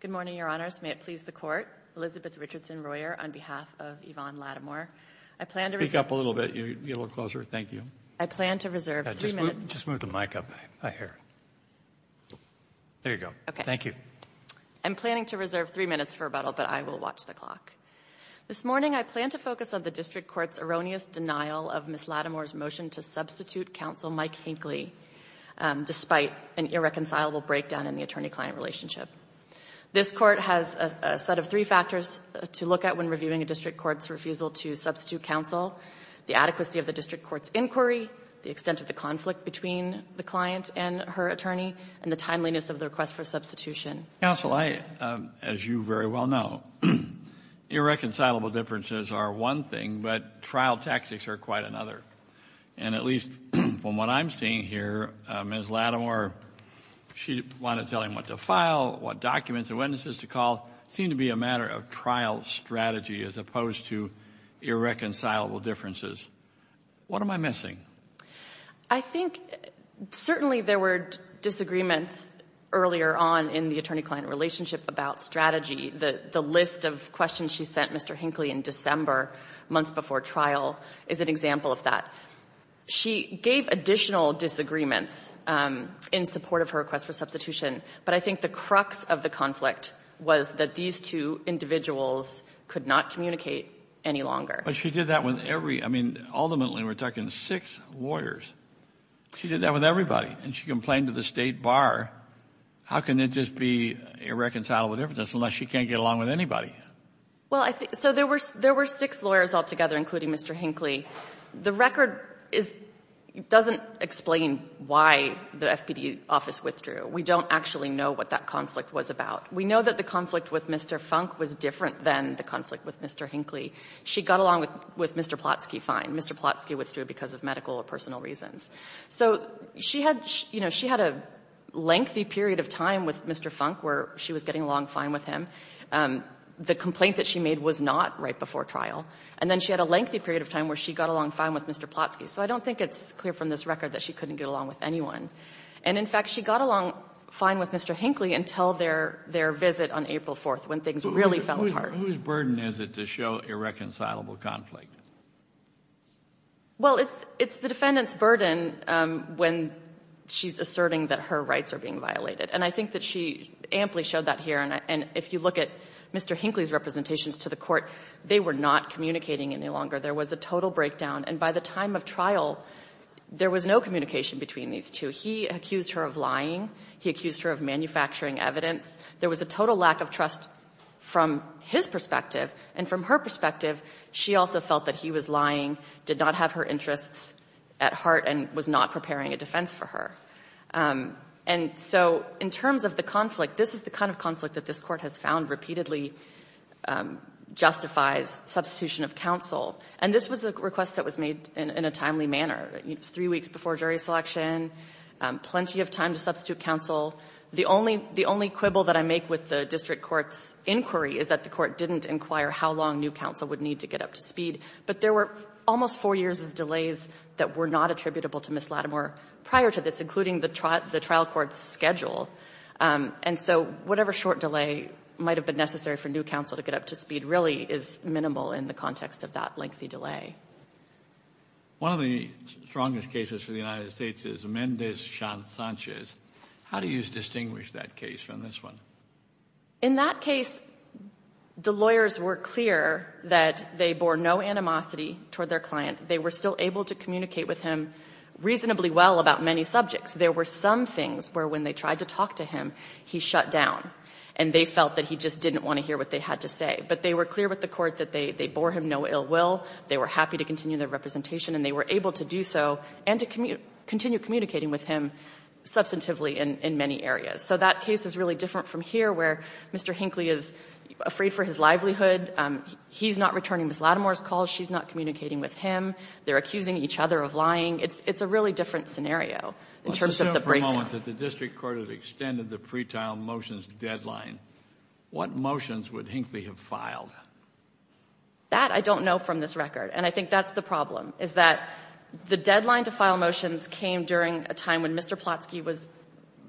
Good morning, Your Honors. May it please the Court. Elizabeth Richardson-Royer on behalf of Yvonne Lattimore. I plan to reserve... Speak up a little bit. Get a little closer. Thank you. I plan to reserve three minutes... Just move the mic up a hair. There you go. Thank you. I'm planning to reserve three minutes for rebuttal, but I will watch the clock. This morning, I plan to focus on the District Court's erroneous denial of Ms. Lattimore's motion to substitute Counsel Mike Hinckley, despite an irreconcilable breakdown in the attorney-client relationship. This Court has a set of three factors to look at when reviewing a District Court's refusal to substitute counsel, the adequacy of the District Court's inquiry, the extent of the conflict between the client and her attorney, and the timeliness of the request for substitution. Counsel, as you very well know, irreconcilable differences are one thing, but trial tactics are quite another. And at least from what I'm seeing here, Ms. Lattimore, she wanted to tell him what to file, what documents and witnesses to call, seem to be a matter of trial strategy as opposed to irreconcilable differences. What am I missing? I think certainly there were disagreements earlier on in the attorney-client relationship about strategy. The list of questions she sent Mr. Hinckley in December, months before trial, is an example of that. She gave additional disagreements in support of her request for substitution, but I think the crux of the conflict was that these two individuals could not communicate any longer. But she did that with every — I mean, ultimately, we're talking six lawyers. She did that with everybody, and she complained to the State Bar. How can it just be irreconcilable differences unless she can't get along with anybody? Well, I think — so there were six lawyers altogether, including Mr. Hinckley. The record is — doesn't explain why the FPD office withdrew. We don't actually know what that conflict was about. We know that the conflict with Mr. Funk was different than the conflict with Mr. Hinckley. She got along with Mr. Plotsky fine. Mr. Plotsky withdrew because of medical or personal reasons. So she had — you know, she had a lengthy period of time with Mr. Funk where she was getting along fine with him. The complaint that she made was not right before trial. And then she had a lengthy period of time where she got along fine with Mr. Plotsky. So I don't think it's clear from this record that she couldn't get along with anyone. And in fact, she got along fine with Mr. Hinckley until their visit on April 4th, when things really fell apart. Whose burden is it to show irreconcilable conflict? Well, it's — it's the defendant's burden when she's asserting that her rights are being violated. And I think that she amply showed that here. And if you look at Mr. Hinckley's representations to the court, they were not communicating any longer. There was a total breakdown. And by the time of trial, there was no communication between these two. He accused her of lying. He accused her of manufacturing evidence. There was a total lack of trust from his perspective. And from her perspective, she also felt that he was lying, did not have her interests at heart, and was not preparing a defense for her. And so in terms of the conflict, this is the kind of conflict that this Court has found repeatedly justifies substitution of counsel. And this was a request that was made in a timely manner. It was three weeks before jury selection, plenty of time to substitute counsel. The only — the only quibble that I make with the district court's inquiry is that the court didn't inquire how long new counsel would need to get up to speed. But there were almost four years of delays that were not attributable to Ms. Lattimore prior to this, including the trial court's schedule. And so whatever short delay might have been necessary for new counsel to get up to speed really is minimal in the context of that lengthy delay. One of the strongest cases for the United States is Mendez-Sanchez. How do you distinguish that case from this one? In that case, the lawyers were clear that they bore no animosity toward their client. They were still able to communicate with him reasonably well about many subjects. There were some things where when they tried to talk to him, he shut down, and they felt that he just didn't want to hear what they had to say. But they were clear with the Court that they bore him no ill will. They were happy to continue their representation, and they were able to do so and to continue communicating with him substantively in many areas. So that case is really different from here, where Mr. Hinckley is afraid for his livelihood. He's not returning Ms. Lattimore's calls. She's not communicating with him. They're accusing each other of lying. It's a really different scenario in terms of the breakdown. Let's assume for a moment that the district court had extended the pretrial motions deadline. What motions would Hinckley have filed? That I don't know from this record, and I think that's the problem, is that the deadline to file motions came during a time when Mr. Plotsky was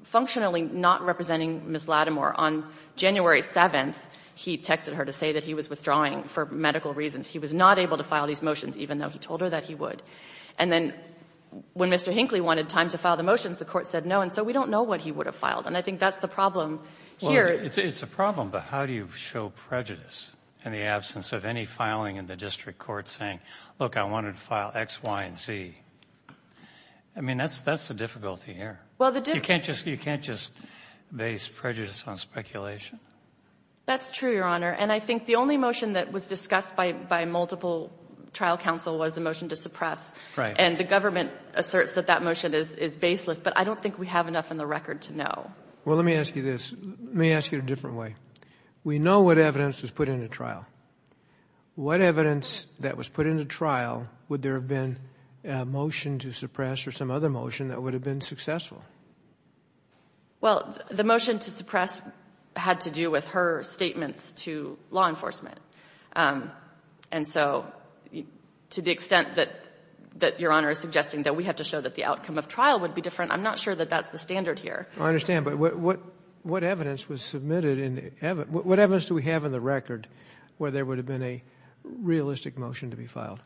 functionally not representing Ms. Lattimore. On January 7th, he texted her to say that he was withdrawing for medical reasons. He was not able to file these motions, even though he told her that he would. And then when Mr. Hinckley wanted time to file the motions, the Court said no, and so we don't know what he would have filed. And I think that's the problem here. Well, it's a problem, but how do you show prejudice in the absence of any filing in the district court saying, look, I wanted to file X, Y, and Z? I mean, that's the difficulty here. You can't just base prejudice on speculation. That's true, Your Honor, and I think the only motion that was discussed by multiple trial counsel was the motion to suppress, and the government asserts that that motion is baseless, but I don't think we have enough in the record to know. Well, let me ask you this. Let me ask you it a different way. We know what evidence was put into trial. What evidence that was put into trial would there have been a motion to suppress or some other motion that would have been successful? Well, the motion to suppress had to do with her statements to law enforcement, and so to the extent that Your Honor is suggesting that we have to show that the outcome of trial would be different, I'm not sure that that's the standard here. I understand, but what evidence was submitted in the record where there would have been a realistic motion to be filed?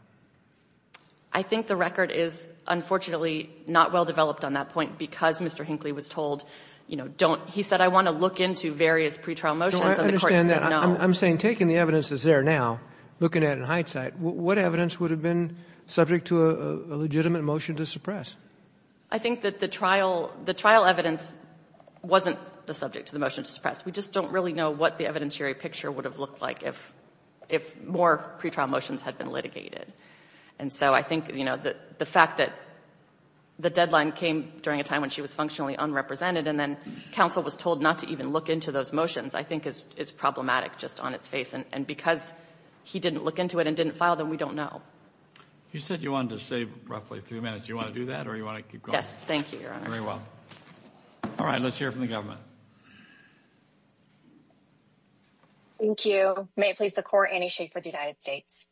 I think the record is unfortunately not well developed on that point because Mr. Hinckley was told, you know, don't. He said, I want to look into various pretrial motions, and the court said no. I understand that. I'm saying taking the evidence that's there now, looking at it in hindsight, what evidence would have been subject to a legitimate motion to suppress? I think that the trial evidence wasn't the subject to the motion to suppress. We just don't really know what the evidentiary picture would have looked like if more pretrial motions had been litigated, and so I think, you know, the fact that the deadline came during a time when she was functionally unrepresented and then counsel was told not to even look into those motions I think is problematic just on its face, and because he didn't look into it and didn't file them, we don't know. You said you wanted to save roughly three minutes. Do you want to do that or do you want to keep going? Yes, thank you, Your Honor. Very well. All right, let's hear from the government. Thank you. May it please the Court, Annie Schafer with the United States.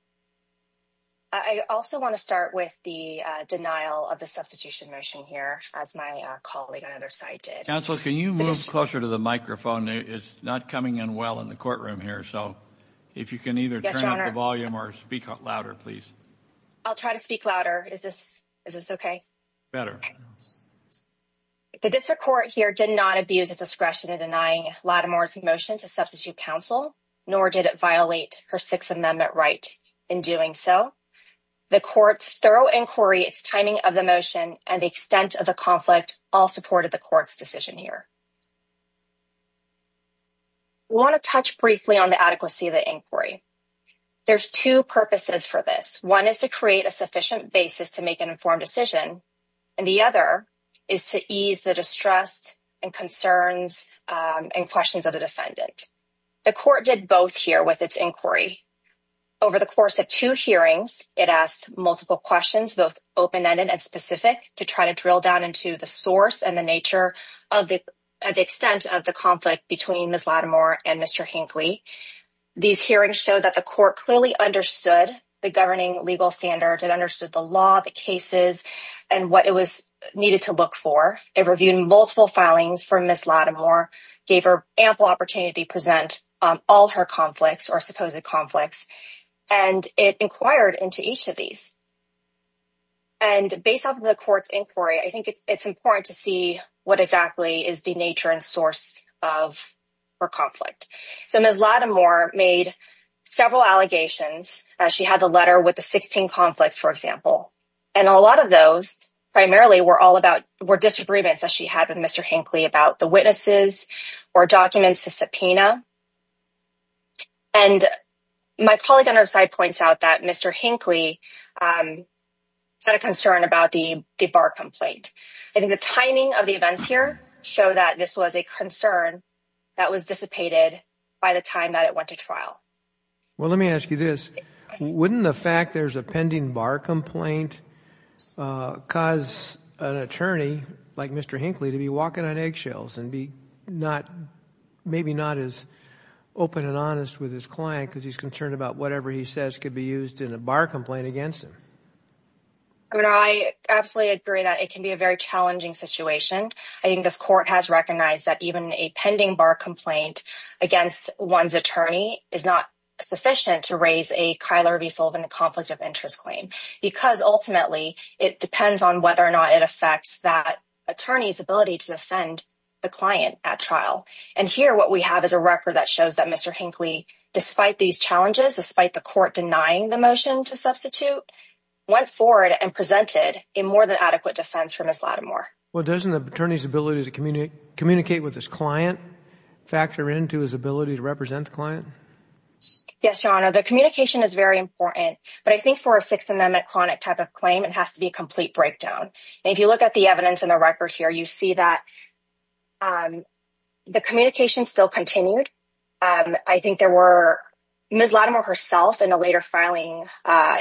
I also want to start with the denial of the substitution motion here, as my colleague on either side did. Counsel, can you move closer to the microphone? It's not coming in well in the courtroom here, so if you can either turn up the volume or speak louder, please. I'll try to speak louder. Is this okay? This Court here did not abuse its discretion in denying Lattimore's motion to substitute counsel, nor did it violate her Sixth Amendment right in doing so. The Court's thorough inquiry, its timing of the motion, and the extent of the conflict all supported the Court's decision here. We want to touch briefly on the adequacy of the inquiry. There's two purposes for this. One is to create a sufficient basis to make an informed decision, and the other is to ease the distrust and concerns and questions of the defendant. The Court did both here with its inquiry. Over the course of two hearings, it asked multiple questions, both open-ended and specific, to try to drill down into the source and the nature of the extent of the conflict between Ms. Lattimore and Mr. Hinckley. These hearings showed that the Court clearly understood the governing legal standards, it understood the law, the cases, and what it needed to look for. It reviewed multiple filings from Ms. Lattimore, gave her ample opportunity to present all her conflicts or supposed conflicts, and it inquired into each of these. And based off of the Court's inquiry, I think it's important to see what exactly is the nature and source of her conflict. So Ms. Lattimore made several allegations. She had the letter with the 16 conflicts, for example, and a lot of those primarily were disagreements that she had with Mr. Hinckley about the witnesses or documents to subpoena, and my colleague on her side points out that Mr. Hinckley had a concern about the bar complaint. I think the timing of the events here show that this was a concern that was dissipated by the time that it went to trial. Well, let me ask you this. Wouldn't the fact there's a pending bar complaint cause an attorney like Mr. Hinckley to be walking on eggshells and be maybe not as open and honest with his client because he's concerned about whatever he says could be used in a bar complaint against him? I mean, I absolutely agree that it can be a very challenging situation. I think this Court has recognized that even a pending bar complaint against one's attorney is not sufficient to raise a Kyler v. Sullivan conflict of interest claim because ultimately it depends on whether or not it affects that attorney's ability to defend the client at trial. And here what we have is a record that shows that Mr. Hinckley, despite these challenges, despite the Court denying the motion to substitute, went forward and presented a more than adequate defense for Ms. Lattimore. Well, doesn't the attorney's ability to communicate with his client factor into his ability to represent the client? Yes, Your Honor. The communication is very important, but I think for a Sixth Amendment chronic type of claim, it has to be a complete breakdown. If you look at the evidence in the record here, you see that the communication still continued. I think there were Ms. Lattimore herself in a later filing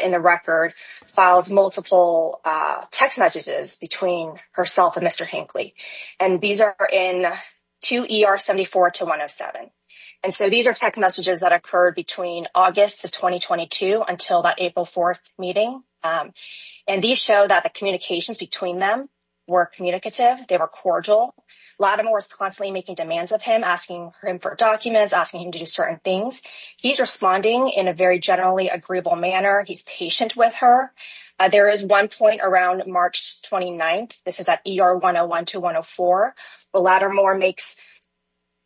in the record, filed multiple text messages between herself and Mr. Hinckley. And these are in 2 ER 74 to 107. And so these are text messages that occurred between August of 2022 until that April 4th meeting. And these show that the communications between them were communicative. They were cordial. Lattimore was constantly making demands of him, asking him for documents, asking him to do certain things. He's responding in a very generally agreeable manner. He's patient with her. There is one point around March 29th. This is at ER 101 to 104. Lattimore makes,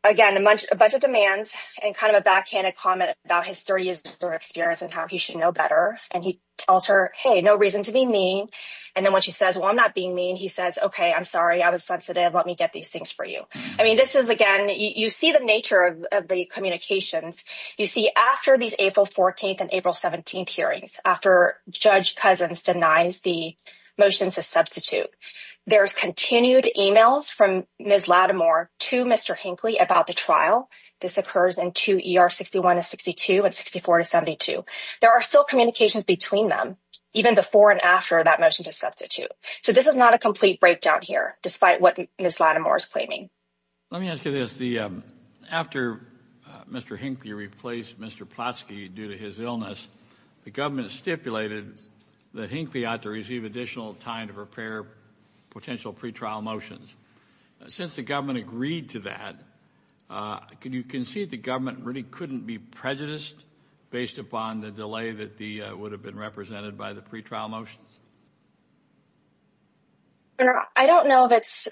again, a bunch of demands and kind of a backhanded comment about his three years of experience and how he should know better. And he tells her, hey, no reason to be mean. And then when she says, well, I'm not being mean, he says, okay, I'm sorry. I was sensitive. Let me get these things for you. I mean, this is, again, you see the nature of the communications. You see after these April 14th and April 17th hearings, after Judge Cousins denies the motion to substitute, there's continued emails from Ms. Lattimore to Mr. Hinckley about the trial. This occurs in 2 ER 61 to 62 and 64 to 72. There are still communications between them, even before and after that motion to substitute. So this is not a complete breakdown here, despite what Ms. Lattimore is claiming. Let me ask you this. After Mr. Hinckley replaced Mr. Plotsky due to his illness, the government stipulated that Hinckley ought to receive additional time to prepare potential pretrial motions. Since the government agreed to that, can you concede the government really couldn't be prejudiced based upon the delay that would have been represented by the pretrial motions? I don't know if it's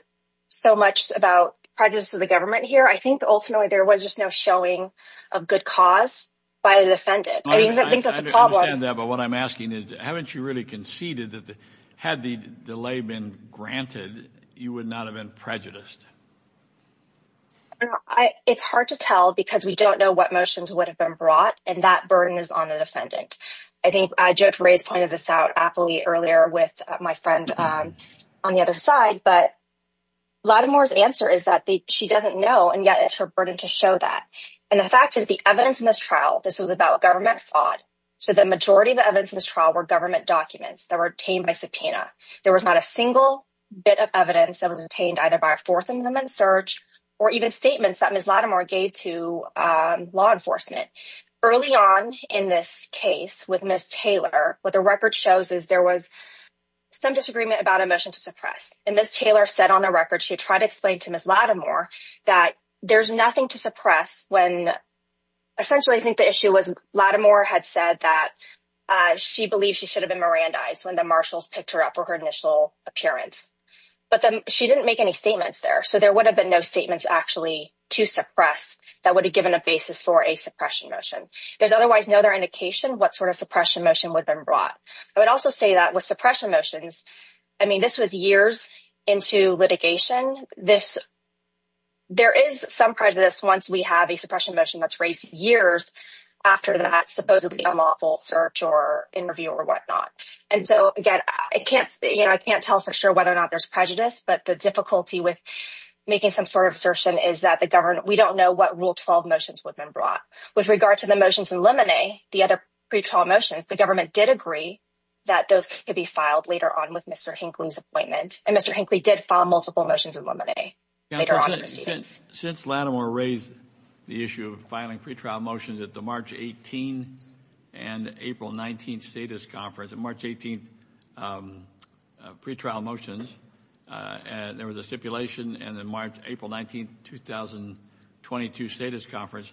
so much about prejudice of the government here. I think ultimately, there was just no showing of good cause by the defendant. I mean, I think that's a problem. I understand that, but what I'm asking is, haven't you really conceded that had the delay been granted, you would not have been prejudiced? It's hard to tell because we don't know what motions would have been brought, and that burden is on the defendant. I think Judge Ray's pointed this out aptly early on in the trial with my friend on the other side, but Lattimore's answer is that she doesn't know, and yet it's her burden to show that. The fact is, the evidence in this trial, this was about government fraud. The majority of the evidence in this trial were government documents that were obtained by subpoena. There was not a single bit of evidence that was obtained either by a Fourth Amendment search or even statements that Ms. Lattimore gave to law enforcement. Early on in this case with Ms. Taylor, what the record shows is there was some disagreement about a motion to suppress, and Ms. Taylor said on the record, she tried to explain to Ms. Lattimore that there's nothing to suppress when, essentially, I think the issue was Lattimore had said that she believed she should have been Mirandized when the marshals picked her up for her initial appearance, but then she didn't make any statements there, so there would have been no statements actually to suppress that would have given a basis for a suppression motion. There's otherwise no other indication what a suppression motion would have been brought. I would also say that with suppression motions, I mean, this was years into litigation. There is some prejudice once we have a suppression motion that's raised years after that supposedly unlawful search or interview or whatnot, and so, again, I can't tell for sure whether or not there's prejudice, but the difficulty with making some sort of assertion is that we don't know what Rule 12 motions would have been brought. With regard to the motions in Lemonnay, the other pre-trial motions, the government did agree that those could be filed later on with Mr. Hinckley's appointment, and Mr. Hinckley did file multiple motions in Lemonnay later on in the proceedings. Since Lattimore raised the issue of filing pre-trial motions at the March 18th and April 19th status conference, the March 18th pre-trial motions, and there was a stipulation, and then March, April 19th, 2022 status conference,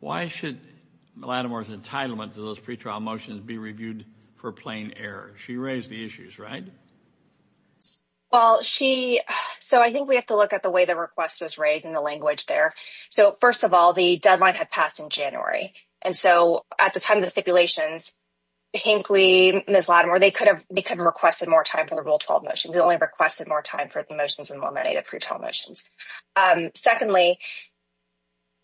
why should Lattimore's entitlement to those pre-trial motions be reviewed for plain error? She raised the issues, right? Well, she, so I think we have to look at the way the request was raised and the language there. So, first of all, the deadline had passed in January, and so at the time of the stipulations, Hinckley and Ms. Lattimore, they could have requested more time for the Rule 12 motions. They only requested more time for the motions in Lemonnay, the pre-trial motions. Secondly,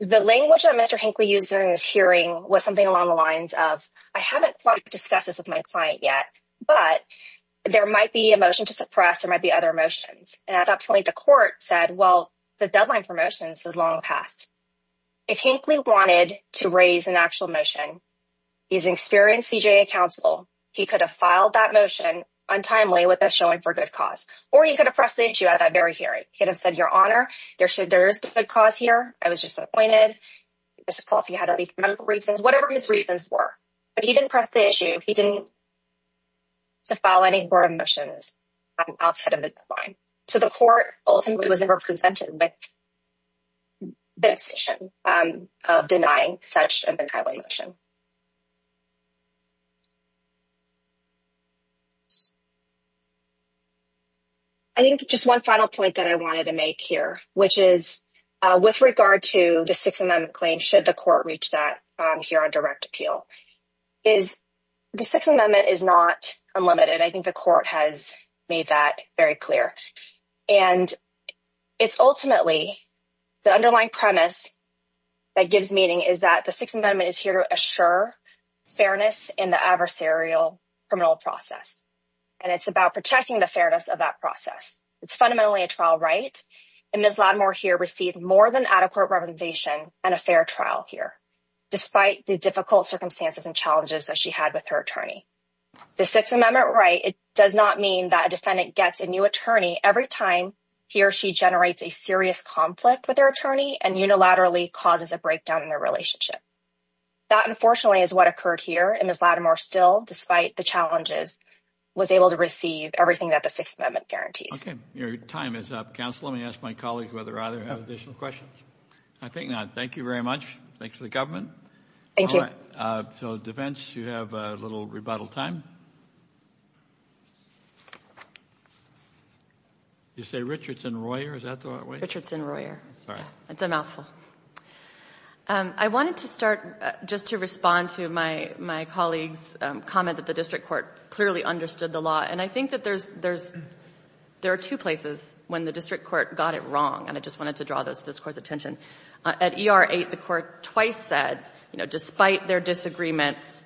the language that Mr. Hinckley used in his hearing was something along the lines of, I haven't quite discussed this with my client yet, but there might be a motion to suppress, there might be other motions. And at that point, the court said, well, the deadline for motions is long past. If Hinckley wanted to raise an actual motion, he's experienced CJA counsel, he could have filed that motion untimely with a showing for good cause, or he could have pressed the issue at that very hearing. He could have said, Your Honor, there is good cause here. I was just appointed. I suppose he had other reasons, whatever his reasons were, but he didn't press the issue. He didn't file any more motions outside of the deadline. So, the court ultimately was never presented with the decision of denying such an untimely motion. I think just one final point that I wanted to make here, which is with regard to the Sixth Amendment claim, should the court reach that here on direct appeal, is the Sixth Amendment is not unlimited. I think the court has made that very clear. And it's ultimately the underlying premise that gives meaning is that the Sixth Amendment is here to assure fairness in the adversarial criminal process. And it's about protecting the fairness of that process. It's fundamentally a trial right. And Ms. Latimer here received more than adequate representation and a fair trial here, despite the difficult circumstances and challenges that she had with her attorney. The Sixth Amendment right does not mean that a defendant gets a new attorney every time he or she has a serious conflict with their attorney and unilaterally causes a breakdown in their relationship. That, unfortunately, is what occurred here. And Ms. Latimer still, despite the challenges, was able to receive everything that the Sixth Amendment guarantees. Okay. Your time is up, counsel. Let me ask my colleague whether either have additional questions. I think not. Thank you very much. Thanks to the government. Thank you. So, defense, you have a little rebuttal time. Do you say Richardson-Royer? Is that the right way? Richardson-Royer. Sorry. It's a mouthful. I wanted to start just to respond to my colleague's comment that the district court clearly understood the law. And I think that there are two places when the district court got it wrong. And I just wanted to draw this court's attention. At ER 8, the court twice said, despite their disagreements,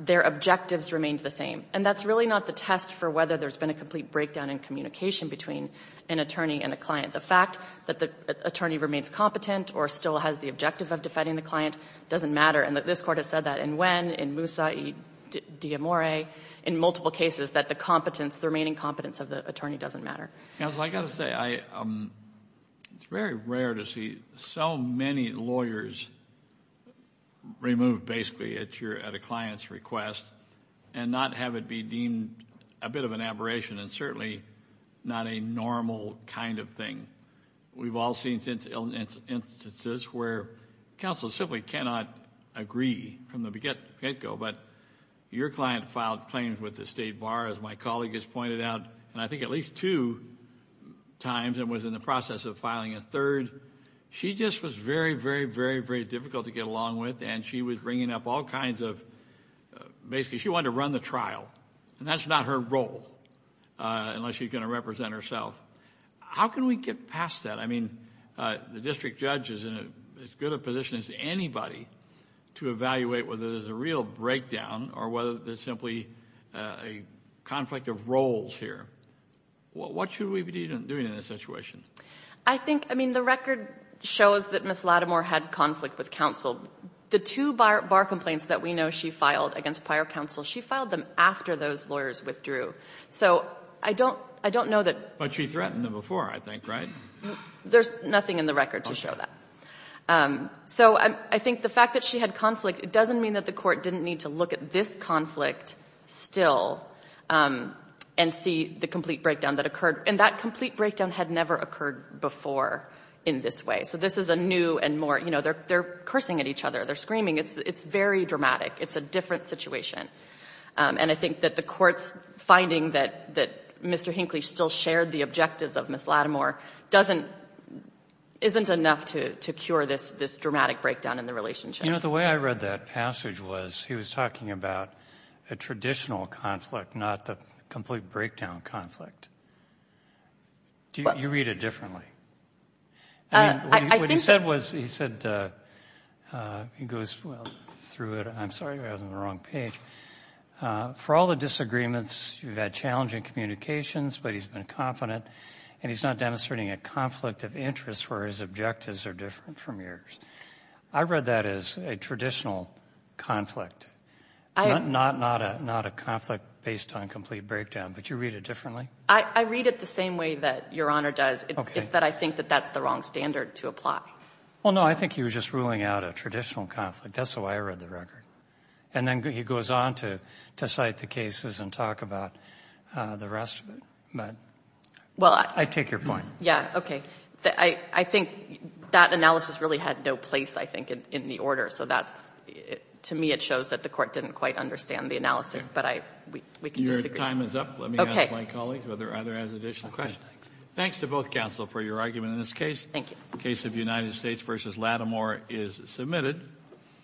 their objectives remained the same. And that's really not the test for whether there's been a complete breakdown in communication between an attorney and a client. The fact that the attorney remains competent or still has the objective of defending the client doesn't matter. And this court has said that in Nguyen, in Musa, in D'Amore, in multiple cases, that the competence, the remaining competence of the attorney doesn't matter. Counsel, I got to say, it's very rare to see so many lawyers removed, basically, at a client's request and not have it be deemed a bit of an aberration and certainly not a normal kind of thing. We've all seen instances where counsel simply cannot agree from the get-go. But your client filed claims with the state bar, as my colleague has pointed out, and I think at least two times and was in the process of filing a third. She just was very, very, very, very difficult to get along with. And she was bringing up all kinds of... basically, she wanted to run the trial. And that's not her role, unless she's going to represent herself. How can we get past that? I mean, the district judge is in as good a position as anybody to evaluate whether there's a real breakdown or whether there's simply a conflict of roles here. What should we be doing in this situation? I think, I mean, the record shows that Ms. Lattimore had conflict with counsel. The two bar complaints that we know she filed against prior counsel, she filed them after those lawyers withdrew. So I don't know that... But she threatened them before, I think, right? There's nothing in the record to show that. So I think the fact that she had conflict, it doesn't mean that the Court didn't need to look at this conflict still and see the complete breakdown that occurred. And that complete breakdown had never occurred before in this way. So this is a new and more, you know, they're cursing at each other. They're screaming. It's very dramatic. It's a different situation. And I think that the Court's finding that Mr. Hinckley still shared the objectives of Ms. Lattimore doesn't... isn't enough to cure this dramatic breakdown in the relationship. You know, the way I read that passage was he was talking about a traditional conflict, not the complete breakdown conflict. You read it differently. I think... What he said was, he said, he goes through it. I'm sorry, I was on the wrong page. For all the disagreements, you've had challenging communications, but he's been confident, and he's not demonstrating a conflict of interest where his objectives are different from yours. I read that as a traditional conflict, not a conflict based on complete breakdown. But you read it differently? I read it the same way that Your Honor does. It's that I think that that's the wrong standard to apply. Well, no, I think he was just ruling out a traditional conflict. That's the way I read the record. And then he goes on to cite the cases and talk about the rest of it. But I take your point. Yeah, okay. I think that analysis really had no place, I think, in the order. So to me, it shows that the Court didn't quite understand the analysis. But we can disagree. Your time is up. Let me ask my colleague whether either has additional questions. Thanks to both counsel for your argument in this case. Thank you. The case of United States v. Lattimore is submitted.